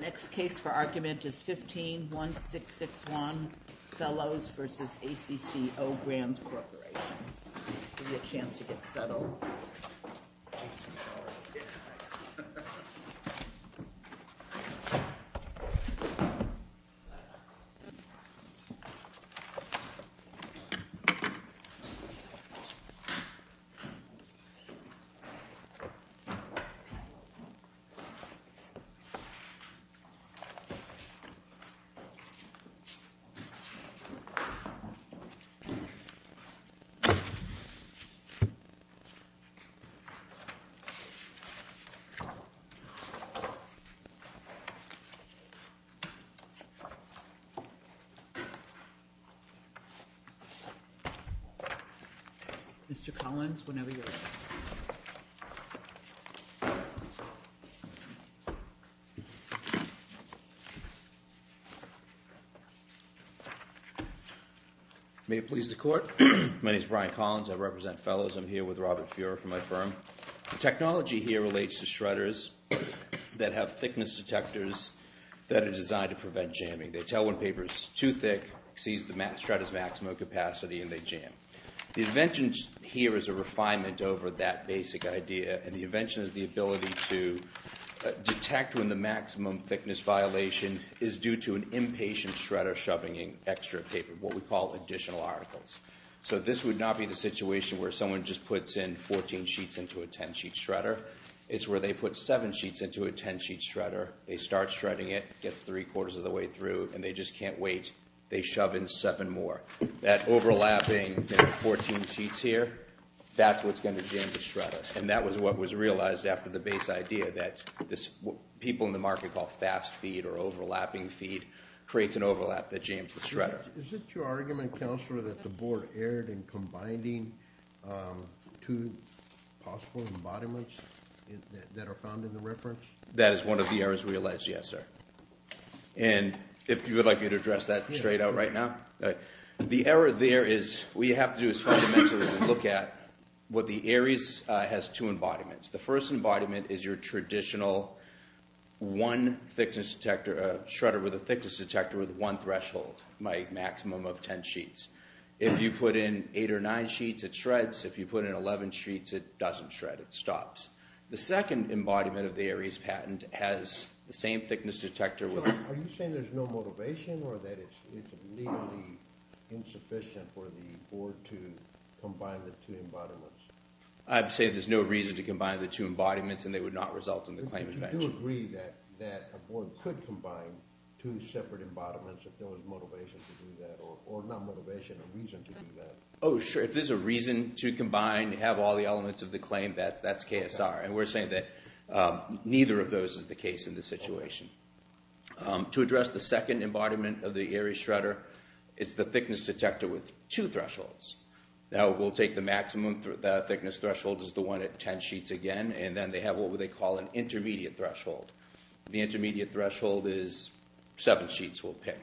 Next case for argument is 15-1661, Fellows v. ACCO Brands Corporation. Give you a chance to get settled. Mr. Collins, whenever you're ready. May it please the Court. My name is Brian Collins. I represent Fellows. I'm here with Robert Fuhrer from my firm. The technology here relates to shredders that have thickness detectors that are designed to prevent jamming. They tell when paper is too thick, sees the shredder's maximum capacity, and they jam. The invention here is a refinement over that basic idea. And the invention is the ability to detect when the maximum thickness violation is due to an impatient shredder shoving in extra paper, what we call additional articles. So this would not be the situation where someone just puts in 14 sheets into a 10-sheet shredder. It's where they put 7 sheets into a 10-sheet shredder. They start shredding it, gets three-quarters of the way through, and they just can't wait. They shove in 7 more. That overlapping 14 sheets here, that's what's going to jam the shredder. And that was what was realized after the base idea that people in the market call fast feed or overlapping feed creates an overlap that jams the shredder. Is it your argument, Counselor, that the board erred in combining two possible embodiments that are found in the reference? That is one of the errors we alleged, yes, sir. And if you would like me to address that straight out right now? The error there is what you have to do is fundamentally look at what the ARIES has two embodiments. The first embodiment is your traditional one thickness detector, a shredder with a thickness detector with one threshold, a maximum of 10 sheets. If you put in 8 or 9 sheets, it shreds. If you put in 11 sheets, it doesn't shred. It stops. The second embodiment of the ARIES patent has the same thickness detector with it. Are you saying there's no motivation or that it's nearly insufficient for the board to combine the two embodiments? I'd say there's no reason to combine the two embodiments, and they would not result in the claims match. Do you agree that a board could combine two separate embodiments if there was motivation to do that, or not motivation, a reason to do that? Oh, sure. If there's a reason to combine, to have all the elements of the claim, that's KSR, and we're saying that neither of those is the case in this situation. To address the second embodiment of the ARIES shredder, it's the thickness detector with two thresholds. Now, we'll take the maximum thickness threshold as the one at 10 sheets again, and then they have what they call an intermediate threshold. The intermediate threshold is 7 sheets we'll pick.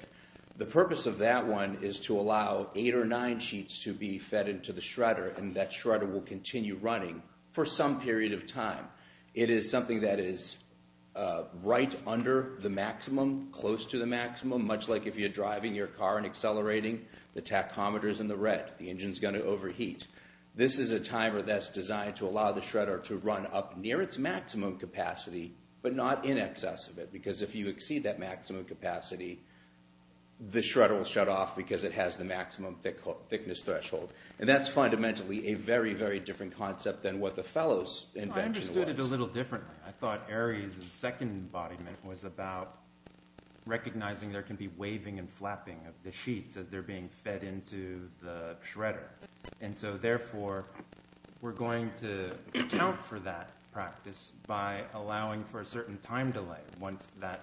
The purpose of that one is to allow 8 or 9 sheets to be fed into the shredder, and that shredder will continue running for some period of time. It is something that is right under the maximum, close to the maximum, much like if you're driving your car and accelerating, the tachometer's in the red. The engine's going to overheat. This is a timer that's designed to allow the shredder to run up near its maximum capacity, but not in excess of it, because if you exceed that maximum capacity, the shredder will shut off because it has the maximum thickness threshold. And that's fundamentally a very, very different concept than what the Fellow's invention was. I understood it a little differently. I thought ARIES' second embodiment was about recognizing there can be waving and flapping of the sheets as they're being fed into the shredder. And so, therefore, we're going to account for that practice by allowing for a certain time delay once that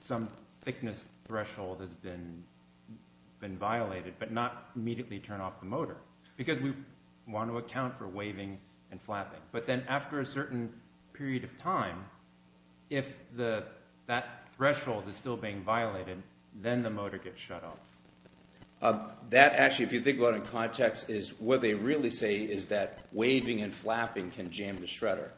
some thickness threshold has been violated, but not immediately turn off the motor because we want to account for waving and flapping. But then after a certain period of time, if that threshold is still being violated, then the motor gets shut off. That, actually, if you think about it in context, is what they really say is that waving and flapping can jam the shredder.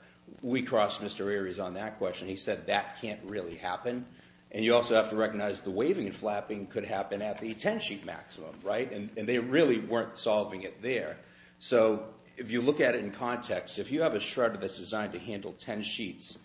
We crossed Mr. ARIES on that question. He said that can't really happen. And you also have to recognize the waving and flapping could happen at the 10-sheet maximum, right? And they really weren't solving it there. So if you look at it in context, if you have a shredder that's designed to handle 10 sheets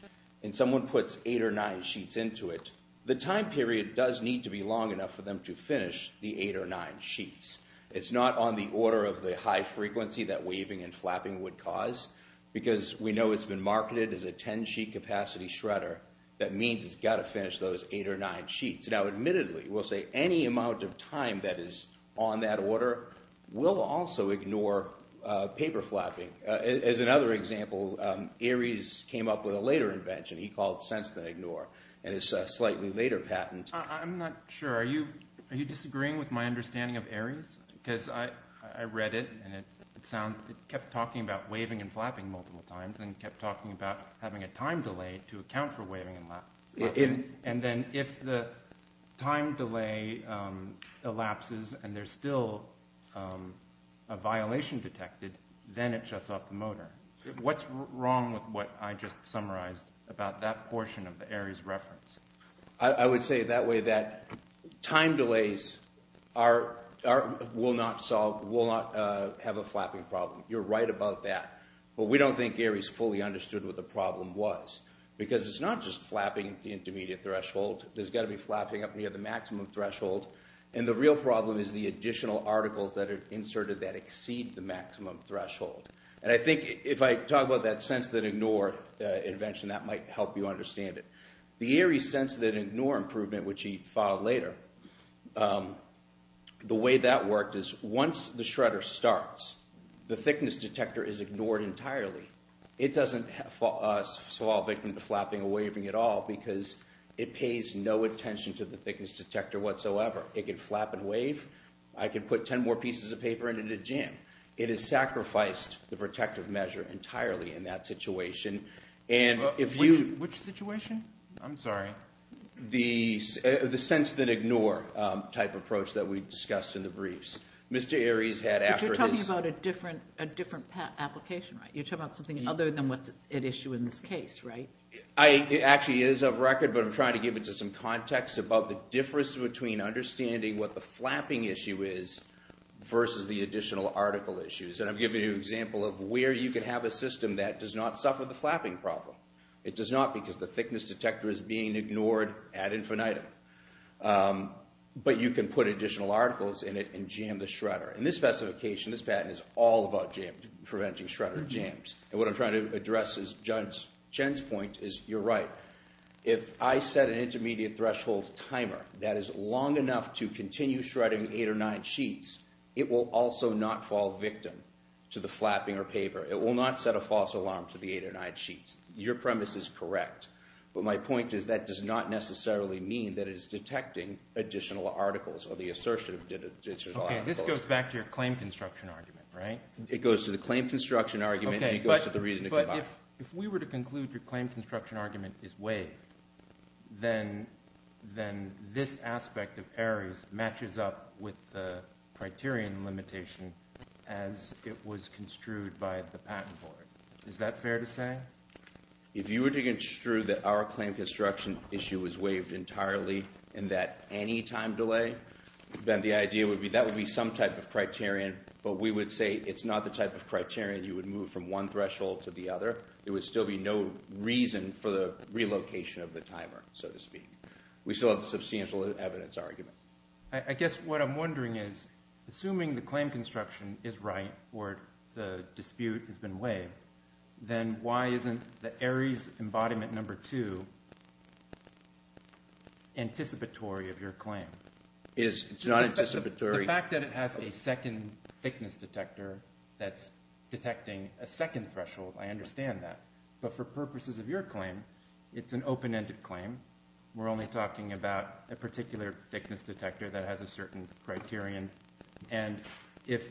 and someone puts eight or nine sheets into it, the time period does need to be long enough for them to finish the eight or nine sheets. It's not on the order of the high frequency that waving and flapping would cause because we know it's been marketed as a 10-sheet capacity shredder. That means it's got to finish those eight or nine sheets. Now, admittedly, we'll say any amount of time that is on that order will also ignore paper flapping. As another example, ARIES came up with a later invention. He called Sense Then Ignore, and it's a slightly later patent. I'm not sure. Are you disagreeing with my understanding of ARIES? Because I read it, and it kept talking about waving and flapping multiple times and kept talking about having a time delay to account for waving and flapping. And then if the time delay elapses and there's still a violation detected, then it shuts off the motor. What's wrong with what I just summarized about that portion of the ARIES reference? I would say that way that time delays will not have a flapping problem. You're right about that. But we don't think ARIES fully understood what the problem was because it's not just flapping the intermediate threshold. There's got to be flapping up near the maximum threshold, and the real problem is the additional articles that are inserted that exceed the maximum threshold. And I think if I talk about that Sense Then Ignore invention, that might help you understand it. The ARIES Sense Then Ignore improvement, which he filed later, the way that worked is once the shredder starts, the thickness detector is ignored entirely. It doesn't fall victim to flapping or waving at all because it pays no attention to the thickness detector whatsoever. It can flap and wave. I can put 10 more pieces of paper in and it'd jam. It has sacrificed the protective measure entirely in that situation. Which situation? I'm sorry. The Sense Then Ignore type approach that we discussed in the briefs. But you're talking about a different application, right? You're talking about something other than what's at issue in this case, right? It actually is of record, but I'm trying to give it to some context about the difference between understanding what the flapping issue is versus the additional article issues. And I'm giving you an example of where you can have a system that does not suffer the flapping problem. It does not because the thickness detector is being ignored ad infinitum. But you can put additional articles in it and jam the shredder. In this specification, this patent is all about preventing shredder jams. And what I'm trying to address is Jen's point is you're right. If I set an intermediate threshold timer that is long enough to continue shredding 8 or 9 sheets, it will also not fall victim to the flapping or paper. It will not set a false alarm to the 8 or 9 sheets. Your premise is correct. But my point is that does not necessarily mean that it is detecting additional articles or the assertion of additional articles. Okay, this goes back to your claim construction argument, right? It goes to the claim construction argument and it goes to the reason it came out. But if we were to conclude your claim construction argument is waived, then this aspect of ARIES matches up with the criterion limitation as it was construed by the patent board. Is that fair to say? If you were to construe that our claim construction issue was waived entirely and that any time delay, then the idea would be that would be some type of criterion. But we would say it's not the type of criterion you would move from one threshold to the other. There would still be no reason for the relocation of the timer, so to speak. We still have the substantial evidence argument. I guess what I'm wondering is assuming the claim construction is right or the dispute has been waived, then why isn't the ARIES embodiment number 2 anticipatory of your claim? It's not anticipatory. The fact that it has a second thickness detector that's detecting a second threshold, I understand that. But for purposes of your claim, it's an open-ended claim. We're only talking about a particular thickness detector that has a certain criterion. And if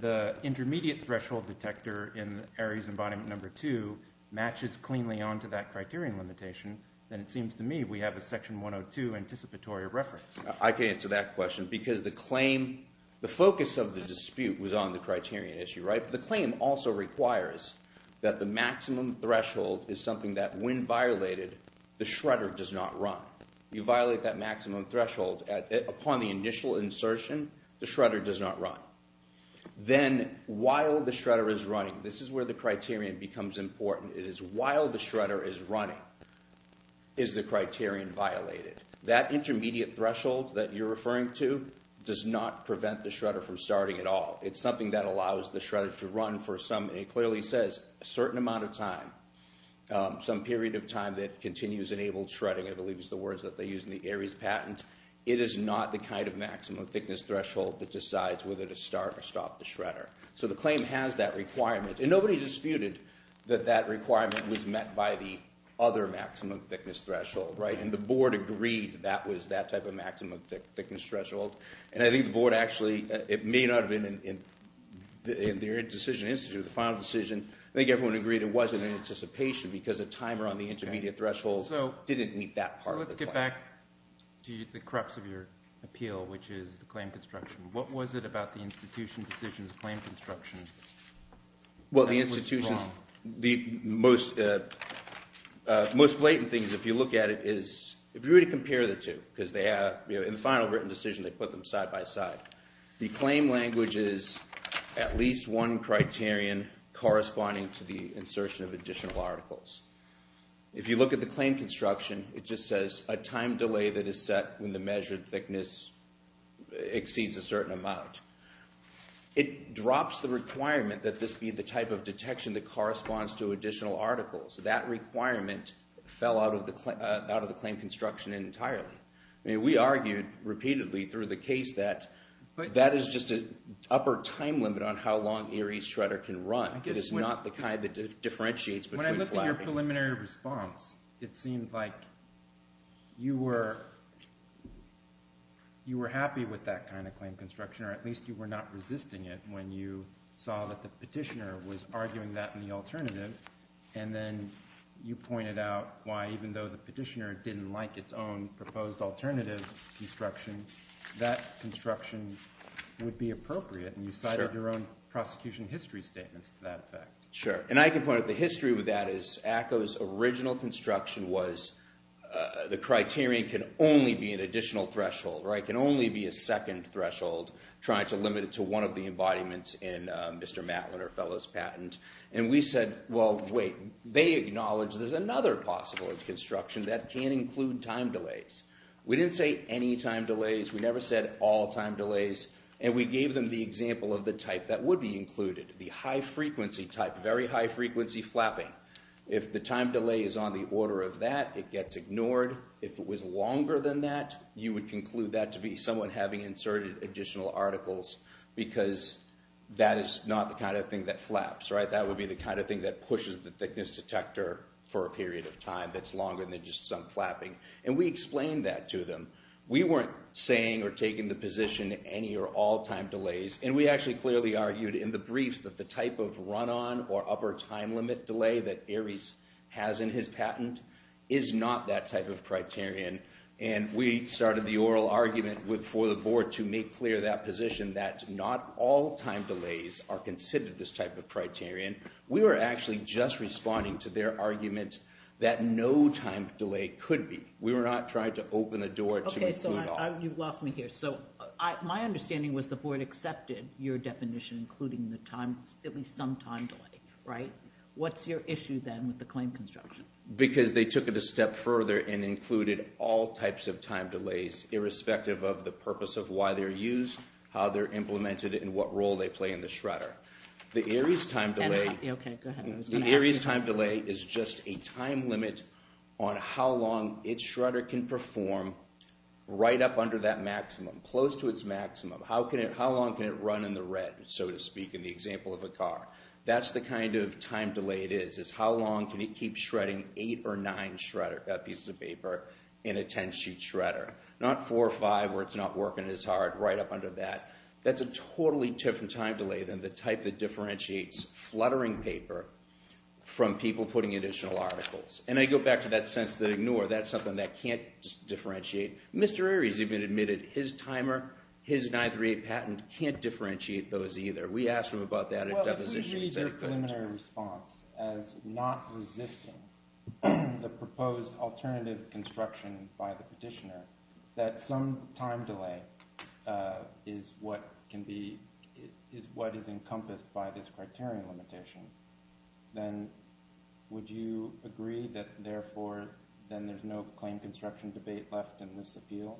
the intermediate threshold detector in ARIES embodiment number 2 matches cleanly onto that criterion limitation, then it seems to me we have a section 102 anticipatory of reference. I can answer that question because the claim – the focus of the dispute was on the criterion issue. The claim also requires that the maximum threshold is something that when violated, the shredder does not run. You violate that maximum threshold upon the initial insertion. The shredder does not run. Then while the shredder is running – this is where the criterion becomes important. It is while the shredder is running is the criterion violated. That intermediate threshold that you're referring to does not prevent the shredder from starting at all. It's something that allows the shredder to run for some – it clearly says a certain amount of time, some period of time that continues enabled shredding, I believe is the words that they use in the ARIES patent. It is not the kind of maximum thickness threshold that decides whether to start or stop the shredder. So the claim has that requirement. And nobody disputed that that requirement was met by the other maximum thickness threshold. Right, and the board agreed that was that type of maximum thickness threshold. And I think the board actually – it may not have been in their decision to institute the final decision. I think everyone agreed it wasn't in anticipation because the timer on the intermediate threshold didn't meet that part of the claim. So let's get back to the crux of your appeal, which is the claim construction. What was it about the institution's decision to claim construction that was wrong? Well, the institution's – the most blatant thing is if you look at it is – if you were to compare the two because they have – in the final written decision, they put them side by side. The claim language is at least one criterion corresponding to the insertion of additional articles. If you look at the claim construction, it just says a time delay that is set when the measured thickness exceeds a certain amount. It drops the requirement that this be the type of detection that corresponds to additional articles. That requirement fell out of the claim construction entirely. I mean we argued repeatedly through the case that that is just an upper time limit on how long Erie's shredder can run. It is not the kind that differentiates between – In your preliminary response, it seemed like you were happy with that kind of claim construction, or at least you were not resisting it when you saw that the petitioner was arguing that in the alternative. And then you pointed out why even though the petitioner didn't like its own proposed alternative construction, that construction would be appropriate. And you cited your own prosecution history statements to that effect. Sure, and I can point out the history with that is ACCO's original construction was the criterion can only be an additional threshold. It can only be a second threshold trying to limit it to one of the embodiments in Mr. Matlin or Fellow's patent. And we said, well, wait, they acknowledge there's another possible construction that can include time delays. We didn't say any time delays. We never said all time delays. And we gave them the example of the type that would be included, the high frequency type, very high frequency flapping. If the time delay is on the order of that, it gets ignored. If it was longer than that, you would conclude that to be someone having inserted additional articles because that is not the kind of thing that flaps, right? That would be the kind of thing that pushes the thickness detector for a period of time that's longer than just some flapping. And we explained that to them. We weren't saying or taking the position any or all time delays. And we actually clearly argued in the briefs that the type of run-on or upper time limit delay that Ares has in his patent is not that type of criterion. And we started the oral argument for the board to make clear that position that not all time delays are considered this type of criterion. We were actually just responding to their argument that no time delay could be. We were not trying to open the door to conclude all. Okay, so you've lost me here. So my understanding was the board accepted your definition including the time, at least some time delay, right? What's your issue then with the claim construction? Because they took it a step further and included all types of time delays irrespective of the purpose of why they're used, how they're implemented, and what role they play in the shredder. The Ares time delay is just a time limit on how long its shredder can perform right up under that maximum, close to its maximum. How long can it run in the red, so to speak, in the example of a car? That's the kind of time delay it is, is how long can it keep shredding 8 or 9 pieces of paper in a 10-sheet shredder, not 4 or 5 where it's not working as hard right up under that. That's a totally different time delay than the type that differentiates fluttering paper from people putting additional articles. And I go back to that sense that ignore. That's something that can't differentiate. Mr. Ares even admitted his timer, his 938 patent can't differentiate those either. Well, if we read your preliminary response as not resisting the proposed alternative construction by the petitioner, that some time delay is what is encompassed by this criterion limitation, then would you agree that therefore then there's no claim construction debate left in this appeal?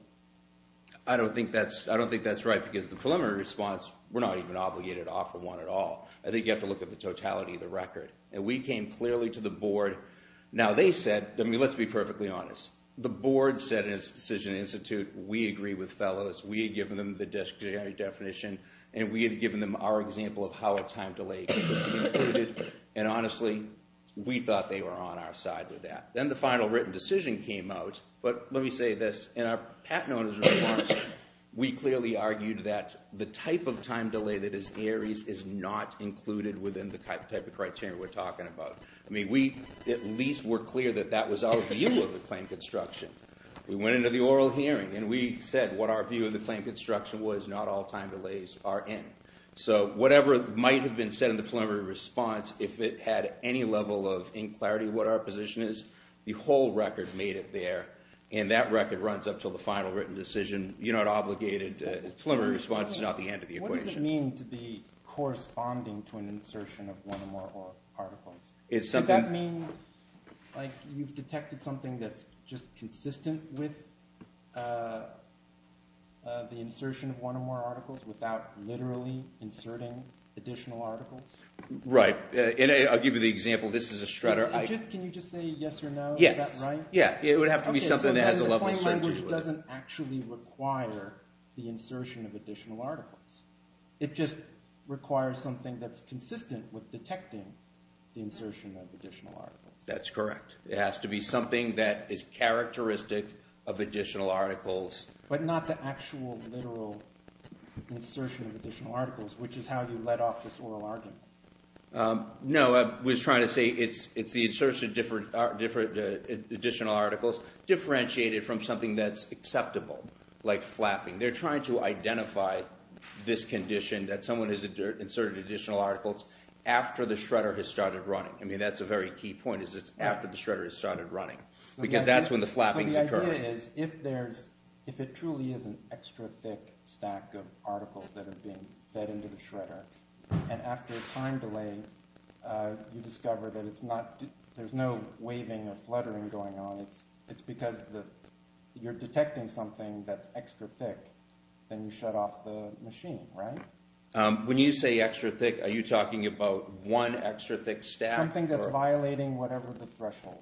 I don't think that's right because the preliminary response, we're not even obligated to offer one at all. I think you have to look at the totality of the record. And we came clearly to the board. Now, they said, I mean, let's be perfectly honest. The board said in its decision institute, we agree with fellows. We had given them the discretionary definition, and we had given them our example of how a time delay can be included. And honestly, we thought they were on our side with that. Then the final written decision came out. But let me say this. In our patent owner's report, we clearly argued that the type of time delay that is Ares is not included within the type of criteria we're talking about. I mean, we at least were clear that that was our view of the claim construction. We went into the oral hearing, and we said what our view of the claim construction was, not all time delays are in. So whatever might have been said in the preliminary response, if it had any level of in-clarity what our position is, the whole record made it there. And that record runs up to the final written decision. You're not obligated. The preliminary response is not the end of the equation. What does it mean to be corresponding to an insertion of one or more articles? Would that mean like you've detected something that's just consistent with the insertion of one or more articles without literally inserting additional articles? Right. And I'll give you the example. This is a shredder. Can you just say yes or no? Is that right? Yes. Yeah. It would have to be something that has a level of certainty with it. Okay. So the claim language doesn't actually require the insertion of additional articles. It just requires something that's consistent with detecting the insertion of additional articles. That's correct. It has to be something that is characteristic of additional articles. But not the actual literal insertion of additional articles, which is how you let off this oral argument. No, I was trying to say it's the insertion of additional articles differentiated from something that's acceptable, like flapping. They're trying to identify this condition that someone has inserted additional articles after the shredder has started running. I mean that's a very key point is it's after the shredder has started running because that's when the flapping is occurring. So the idea is if there's – if it truly is an extra thick stack of articles that have been fed into the shredder, and after a time delay, you discover that it's not – there's no waving or fluttering going on. It's because you're detecting something that's extra thick. Then you shut off the machine, right? When you say extra thick, are you talking about one extra thick stack? Something that's violating whatever the threshold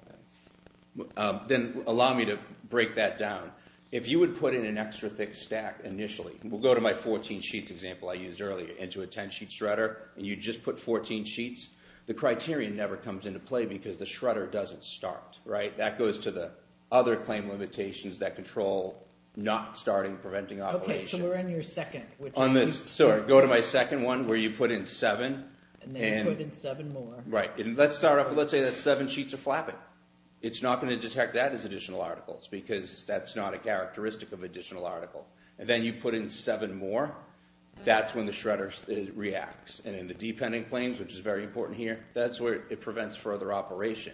is. Then allow me to break that down. If you would put in an extra thick stack initially – we'll go to my 14 sheets example I used earlier – into a 10-sheet shredder, and you just put 14 sheets, the criterion never comes into play because the shredder doesn't start. That goes to the other claim limitations that control not starting preventing operation. Okay, so we're in your second. Go to my second one where you put in seven. And then you put in seven more. Right. Let's start off – let's say that seven sheets of flapping. It's not going to detect that as additional articles because that's not a characteristic of additional article. And then you put in seven more. That's when the shredder reacts. And in the dependent claims, which is very important here, that's where it prevents further operation.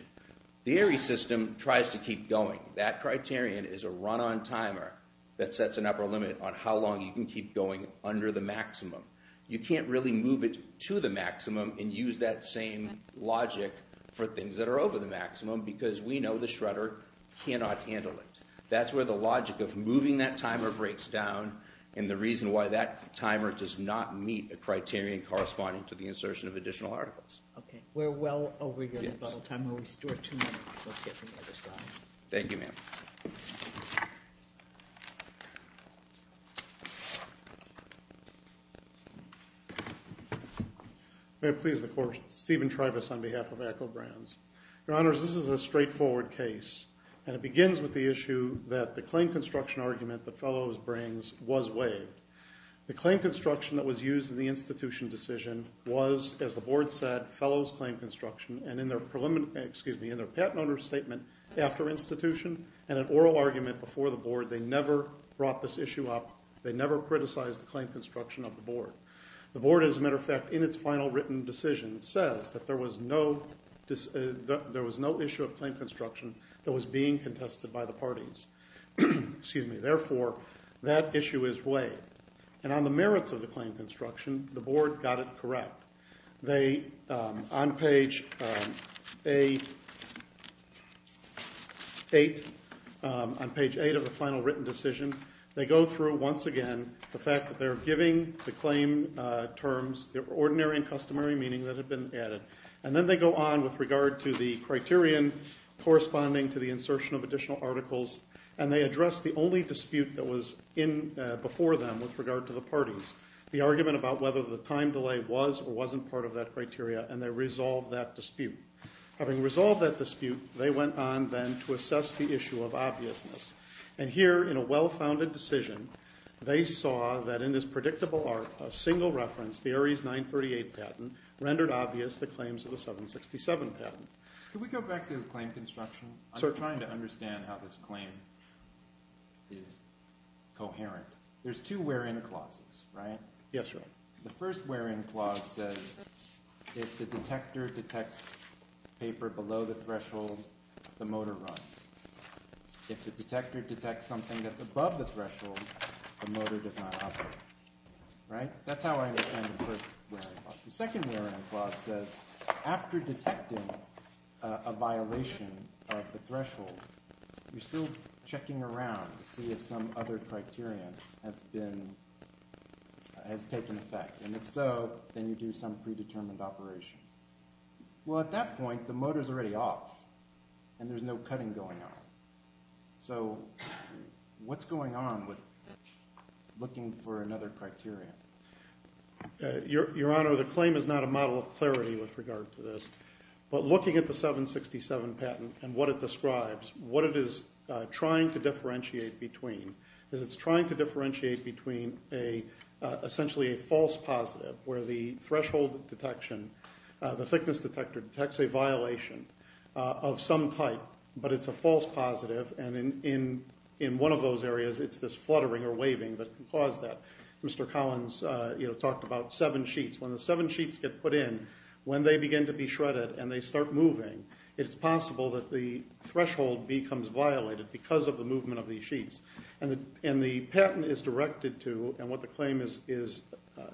The ARIE system tries to keep going. That criterion is a run-on timer that sets an upper limit on how long you can keep going under the maximum. You can't really move it to the maximum and use that same logic for things that are over the maximum because we know the shredder cannot handle it. That's where the logic of moving that timer breaks down and the reason why that timer does not meet the criterion corresponding to the insertion of additional articles. Okay, we're well over your time. We'll restore two minutes. Let's get to the other slide. Thank you, ma'am. May it please the Court. Steven Tribas on behalf of Echobrands. Your Honors, this is a straightforward case, and it begins with the issue that the claim construction argument that Fellows brings was waived. The claim construction that was used in the institution decision was, as the Board said, Fellows claim construction, and in their patent owner's statement after institution and an oral argument before the Board, they never brought this issue up. They never criticized the claim construction of the Board. The Board, as a matter of fact, in its final written decision says that there was no issue of claim construction that was being contested by the parties. Excuse me. Therefore, that issue is waived. And on the merits of the claim construction, the Board got it correct. They, on page 8 of the final written decision, they go through once again the fact that they're giving the claim terms the ordinary and customary meaning that had been added. And then they go on with regard to the criterion corresponding to the insertion of additional articles, and they address the only dispute that was in before them with regard to the parties, the argument about whether the time delay was or wasn't part of that criteria, and they resolve that dispute. Having resolved that dispute, they went on then to assess the issue of obviousness. And here, in a well-founded decision, they saw that in this predictable arc, a single reference, the Ares 938 patent, rendered obvious the claims of the 767 patent. Can we go back to the claim construction? I'm trying to understand how this claim is coherent. There's two where-in clauses, right? Yes, sir. The first where-in clause says if the detector detects paper below the threshold, the motor runs. If the detector detects something that's above the threshold, the motor does not operate. That's how I understand the first where-in clause. The second where-in clause says after detecting a violation of the threshold, you're still checking around to see if some other criterion has taken effect. And if so, then you do some predetermined operation. Well, at that point, the motor's already off, and there's no cutting going on. So what's going on with looking for another criterion? Your Honor, the claim is not a model of clarity with regard to this, but looking at the 767 patent and what it describes, what it is trying to differentiate between is it's trying to differentiate between essentially a false positive where the threshold detection, the thickness detector detects a violation of some type, but it's a false positive. And in one of those areas, it's this fluttering or waving that can cause that. Mr. Collins talked about seven sheets. When the seven sheets get put in, when they begin to be shredded and they start moving, it's possible that the threshold becomes violated because of the movement of these sheets. And the patent is directed to, and what the claim is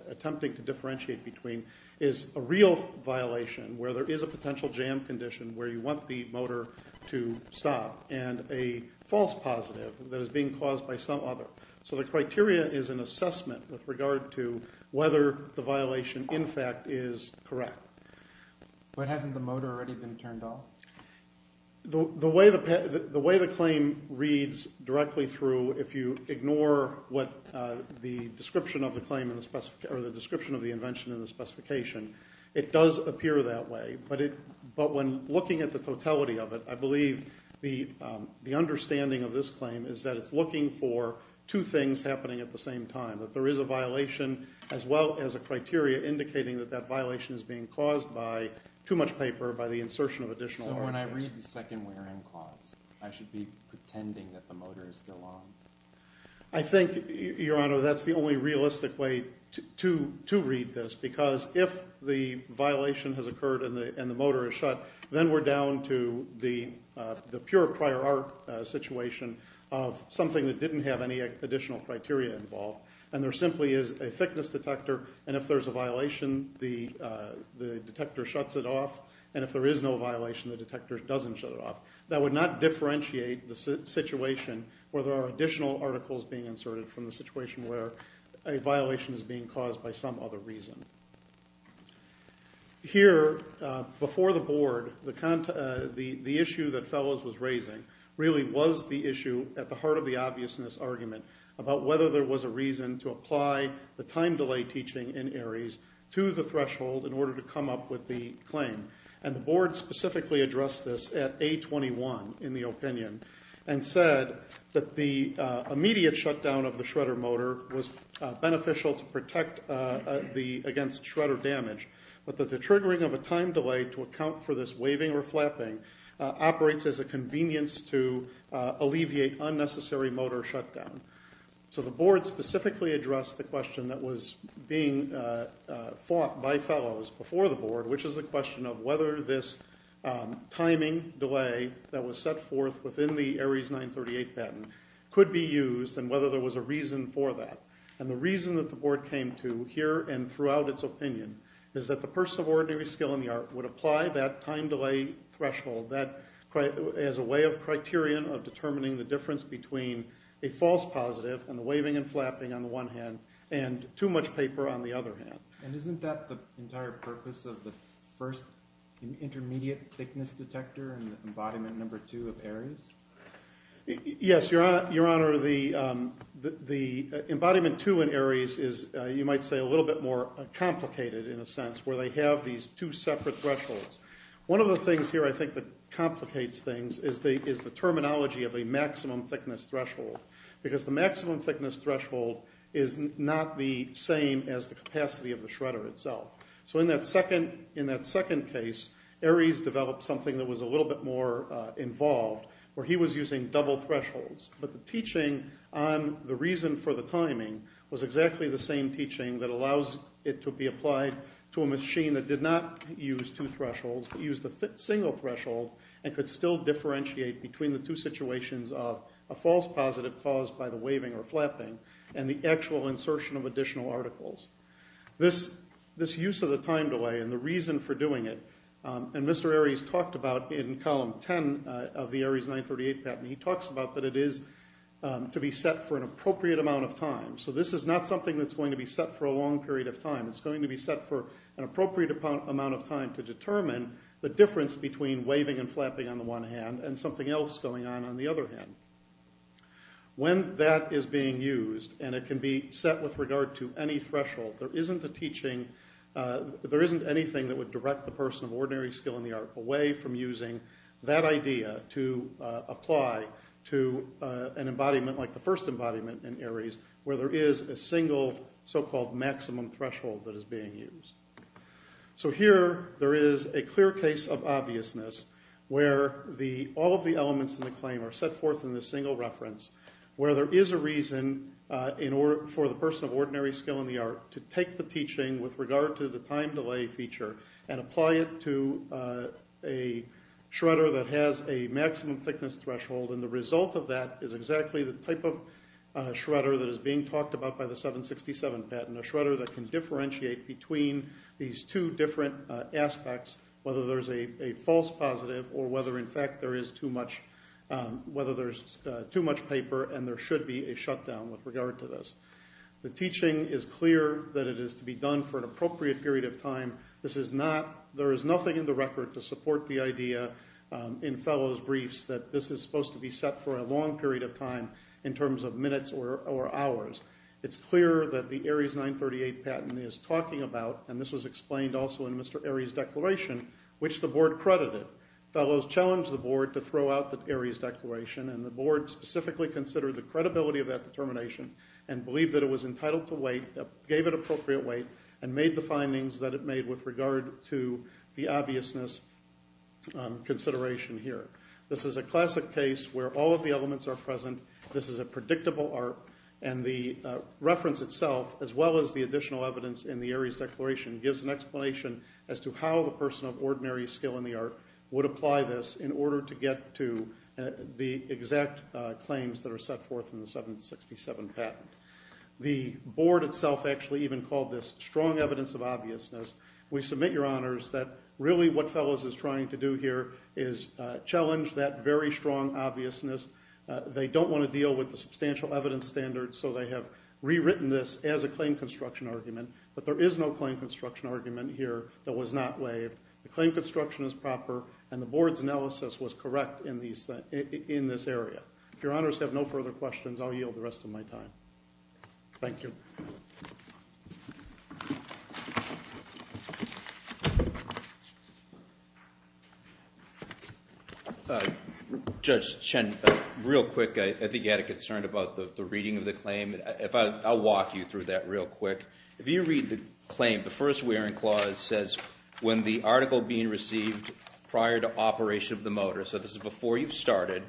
attempting to differentiate between, is a real violation where there is a potential jam condition where you want the motor to stop, and a false positive that is being caused by some other. So the criteria is an assessment with regard to whether the violation, in fact, is correct. But hasn't the motor already been turned off? The way the claim reads directly through, if you ignore what the description of the claim or the description of the invention and the specification, it does appear that way. But when looking at the totality of it, I believe the understanding of this claim is that it's looking for two things happening at the same time, that there is a violation as well as a criteria indicating that that violation is being caused by too much paper, by the insertion of additional orders. So when I read the second where in clause, I should be pretending that the motor is still on? I think, Your Honor, that's the only realistic way to read this because if the violation has occurred and the motor is shut, then we're down to the pure prior art situation of something that didn't have any additional criteria involved. And there simply is a thickness detector, and if there's a violation, the detector shuts it off. And if there is no violation, the detector doesn't shut it off. That would not differentiate the situation where there are additional articles being inserted from the situation where a violation is being caused by some other reason. Here, before the Board, the issue that Fellows was raising really was the issue at the heart of the obviousness argument about whether there was a reason to apply the time delay teaching in Ares to the threshold in order to come up with the claim. And the Board specifically addressed this at A21, in the opinion, and said that the immediate shutdown of the shredder motor was beneficial to protect against shredder damage, but that the triggering of a time delay to account for this waving or flapping operates as a convenience to alleviate unnecessary motor shutdown. So the Board specifically addressed the question that was being fought by Fellows before the Board, which is the question of whether this timing delay that was set forth within the Ares 938 patent could be used and whether there was a reason for that. And the reason that the Board came to, here and throughout its opinion, is that the person of ordinary skill in the art would apply that time delay threshold as a way of criterion of determining the difference between a false positive, and the waving and flapping on the one hand, and too much paper on the other hand. And isn't that the entire purpose of the first intermediate thickness detector in embodiment number two of Ares? Yes, Your Honor. The embodiment two in Ares is, you might say, a little bit more complicated in a sense, where they have these two separate thresholds. One of the things here I think that complicates things is the terminology of a maximum thickness threshold, because the maximum thickness threshold is not the same as the capacity of the shredder itself. So in that second case, Ares developed something that was a little bit more involved, where he was using double thresholds. But the teaching on the reason for the timing was exactly the same teaching that allows it to be applied to a machine that did not use two thresholds, but used a single threshold and could still differentiate between the two situations of a false positive caused by the waving or flapping and the actual insertion of additional articles. This use of the time delay and the reason for doing it, and Mr. Ares talked about in column 10 of the Ares 938 patent, he talks about that it is to be set for an appropriate amount of time. So this is not something that's going to be set for a long period of time. It's going to be set for an appropriate amount of time to determine the difference between waving and flapping on the one hand and something else going on on the other hand. When that is being used and it can be set with regard to any threshold, there isn't a teaching, there isn't anything that would direct the person of ordinary skill in the art away from using that idea to apply to an embodiment like the first embodiment in Ares, where there is a single so-called maximum threshold that is being used. So here there is a clear case of obviousness where all of the elements in the claim are set forth in this single reference where there is a reason for the person of ordinary skill in the art to take the teaching with regard to the time delay feature and apply it to a shredder that has a maximum thickness threshold and the result of that is exactly the type of shredder that is being talked about by the 767 patent, a shredder that can differentiate between these two different aspects, whether there is a false positive or whether in fact there is too much paper and there should be a shutdown with regard to this. The teaching is clear that it is to be done for an appropriate period of time. There is nothing in the record to support the idea in Fellow's briefs that this is supposed to be set for a long period of time in terms of minutes or hours. It's clear that the Ares 938 patent is talking about, and this was explained also in Mr. Ares' declaration, which the board credited. Fellows challenged the board to throw out the Ares declaration and the board specifically considered the credibility of that determination and believed that it was entitled to wait, gave it appropriate wait, and made the findings that it made with regard to the obviousness consideration here. This is a classic case where all of the elements are present. This is a predictable art, and the reference itself, as well as the additional evidence in the Ares declaration, gives an explanation as to how the person of ordinary skill in the art would apply this in order to get to the exact claims that are set forth in the 767 patent. The board itself actually even called this strong evidence of obviousness. We submit, Your Honors, that really what Fellows is trying to do here is challenge that very strong obviousness. They don't want to deal with the substantial evidence standards, so they have rewritten this as a claim construction argument, but there is no claim construction argument here that was not waived. The claim construction is proper, and the board's analysis was correct in this area. If Your Honors have no further questions, I'll yield the rest of my time. Thank you. Judge Chen, real quick, I think you had a concern about the reading of the claim. I'll walk you through that real quick. If you read the claim, the first wearing clause says, when the article being received prior to operation of the motor, so this is before you've started,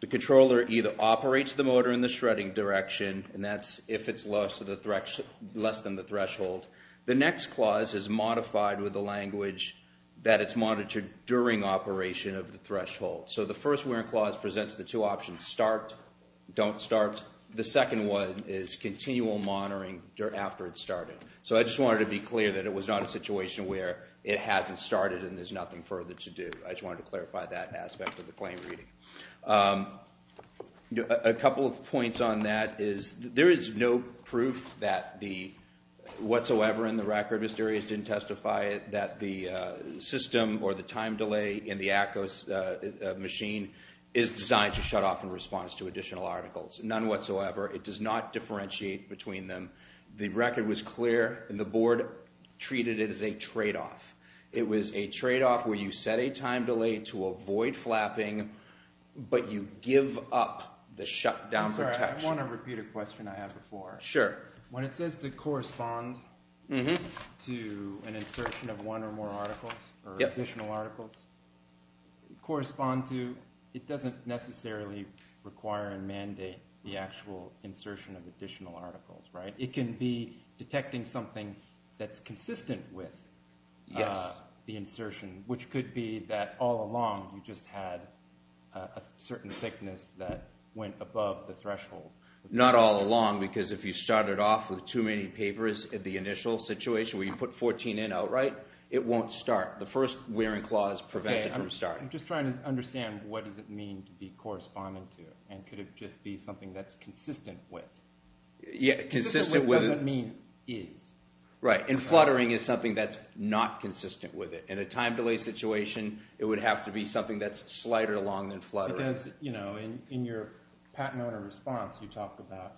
the controller either operates the motor in the shredding direction, and that's if it's less than the threshold. The next clause is modified with the language that it's monitored during operation of the threshold. So the first wearing clause presents the two options, start, don't start. The second one is continual monitoring after it's started. So I just wanted to be clear that it was not a situation where it hasn't started and there's nothing further to do. I just wanted to clarify that aspect of the claim reading. A couple of points on that is there is no proof whatsoever in the record, Mr. Arias didn't testify, that the system or the time delay in the ACOS machine is designed to shut off in response to additional articles. None whatsoever. It does not differentiate between them. The record was clear, and the board treated it as a tradeoff. It was a tradeoff where you set a time delay to avoid flapping, but you give up the shutdown protection. I want to repeat a question I had before. Sure. When it says to correspond to an insertion of one or more articles, or additional articles, it doesn't necessarily require and mandate the actual insertion of additional articles, right? It can be detecting something that's consistent with the insertion, which could be that all along you just had a certain thickness that went above the threshold. Not all along, because if you started off with too many papers in the initial situation where you put 14 in outright, it won't start. The first wearing clause prevents it from starting. I'm just trying to understand what does it mean to be corresponding to, and could it just be something that's consistent with? It doesn't mean is. Right, and fluttering is something that's not consistent with it. In a time delay situation, it would have to be something that's slighter along than fluttering. Because, you know, in your patent owner response, you talk about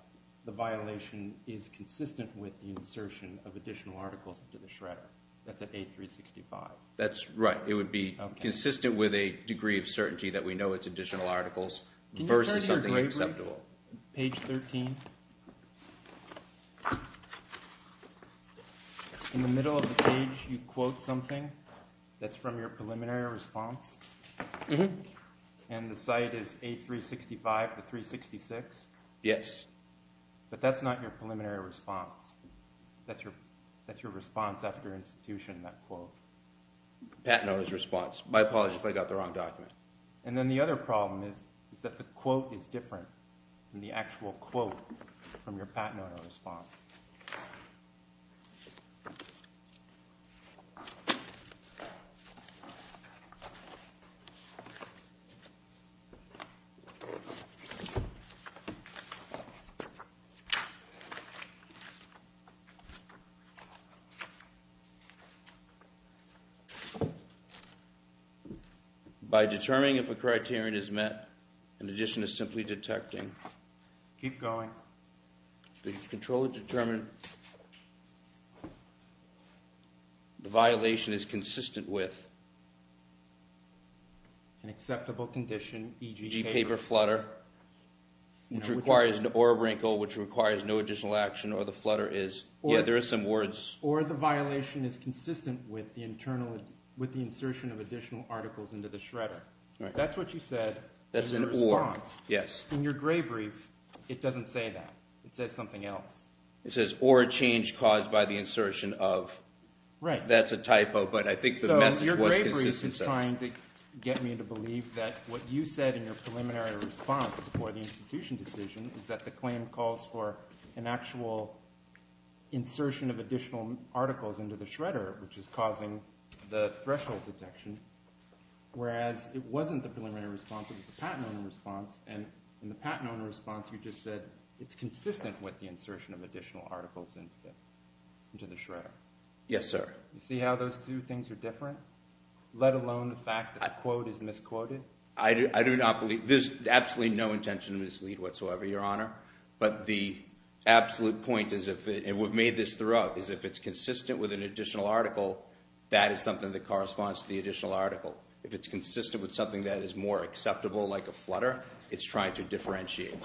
the violation is consistent with the insertion of additional articles into the shredder. That's at A365. That's right. It would be consistent with a degree of certainty that we know it's additional articles versus something acceptable. Page 13. In the middle of the page, you quote something that's from your preliminary response. And the site is A365 to 366? Yes. But that's not your preliminary response. That's your response after institution, that quote. Patent owner's response. My apologies if I got the wrong document. And then the other problem is that the quote is different than the actual quote from your patent owner response. Okay. By determining if a criterion is met in addition to simply detecting. Keep going. The controller determined the violation is consistent with. An acceptable condition, e.g. paper. e.g. paper flutter, which requires an or wrinkle, which requires no additional action, or the flutter is. Yeah, there is some words. Or the violation is consistent with the insertion of additional articles into the shredder. That's an or. In your response. Yes. It doesn't say that. It says something else. It says or a change caused by the insertion of. Right. That's a typo, but I think the message was consistent. So your bravery is just trying to get me to believe that what you said in your preliminary response before the institution decision is that the claim calls for an actual insertion of additional articles into the shredder, which is causing the threshold detection. Whereas it wasn't the preliminary response, it was the patent owner response. And in the patent owner response, you just said it's consistent with the insertion of additional articles into the shredder. Yes, sir. You see how those two things are different, let alone the fact that the quote is misquoted? I do not believe. There's absolutely no intention to mislead whatsoever, Your Honor. But the absolute point is, and we've made this throughout, is if it's consistent with an additional article, that is something that corresponds to the additional article. If it's consistent with something that is more acceptable, like a flutter, it's trying to differentiate.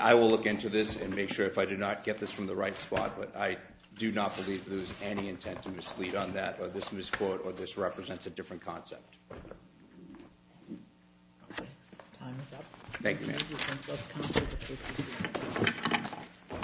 I will look into this and make sure if I do not get this from the right spot, but I do not believe there is any intent to mislead on that, or this misquote, or this represents a different concept. Time is up. Thank you, ma'am.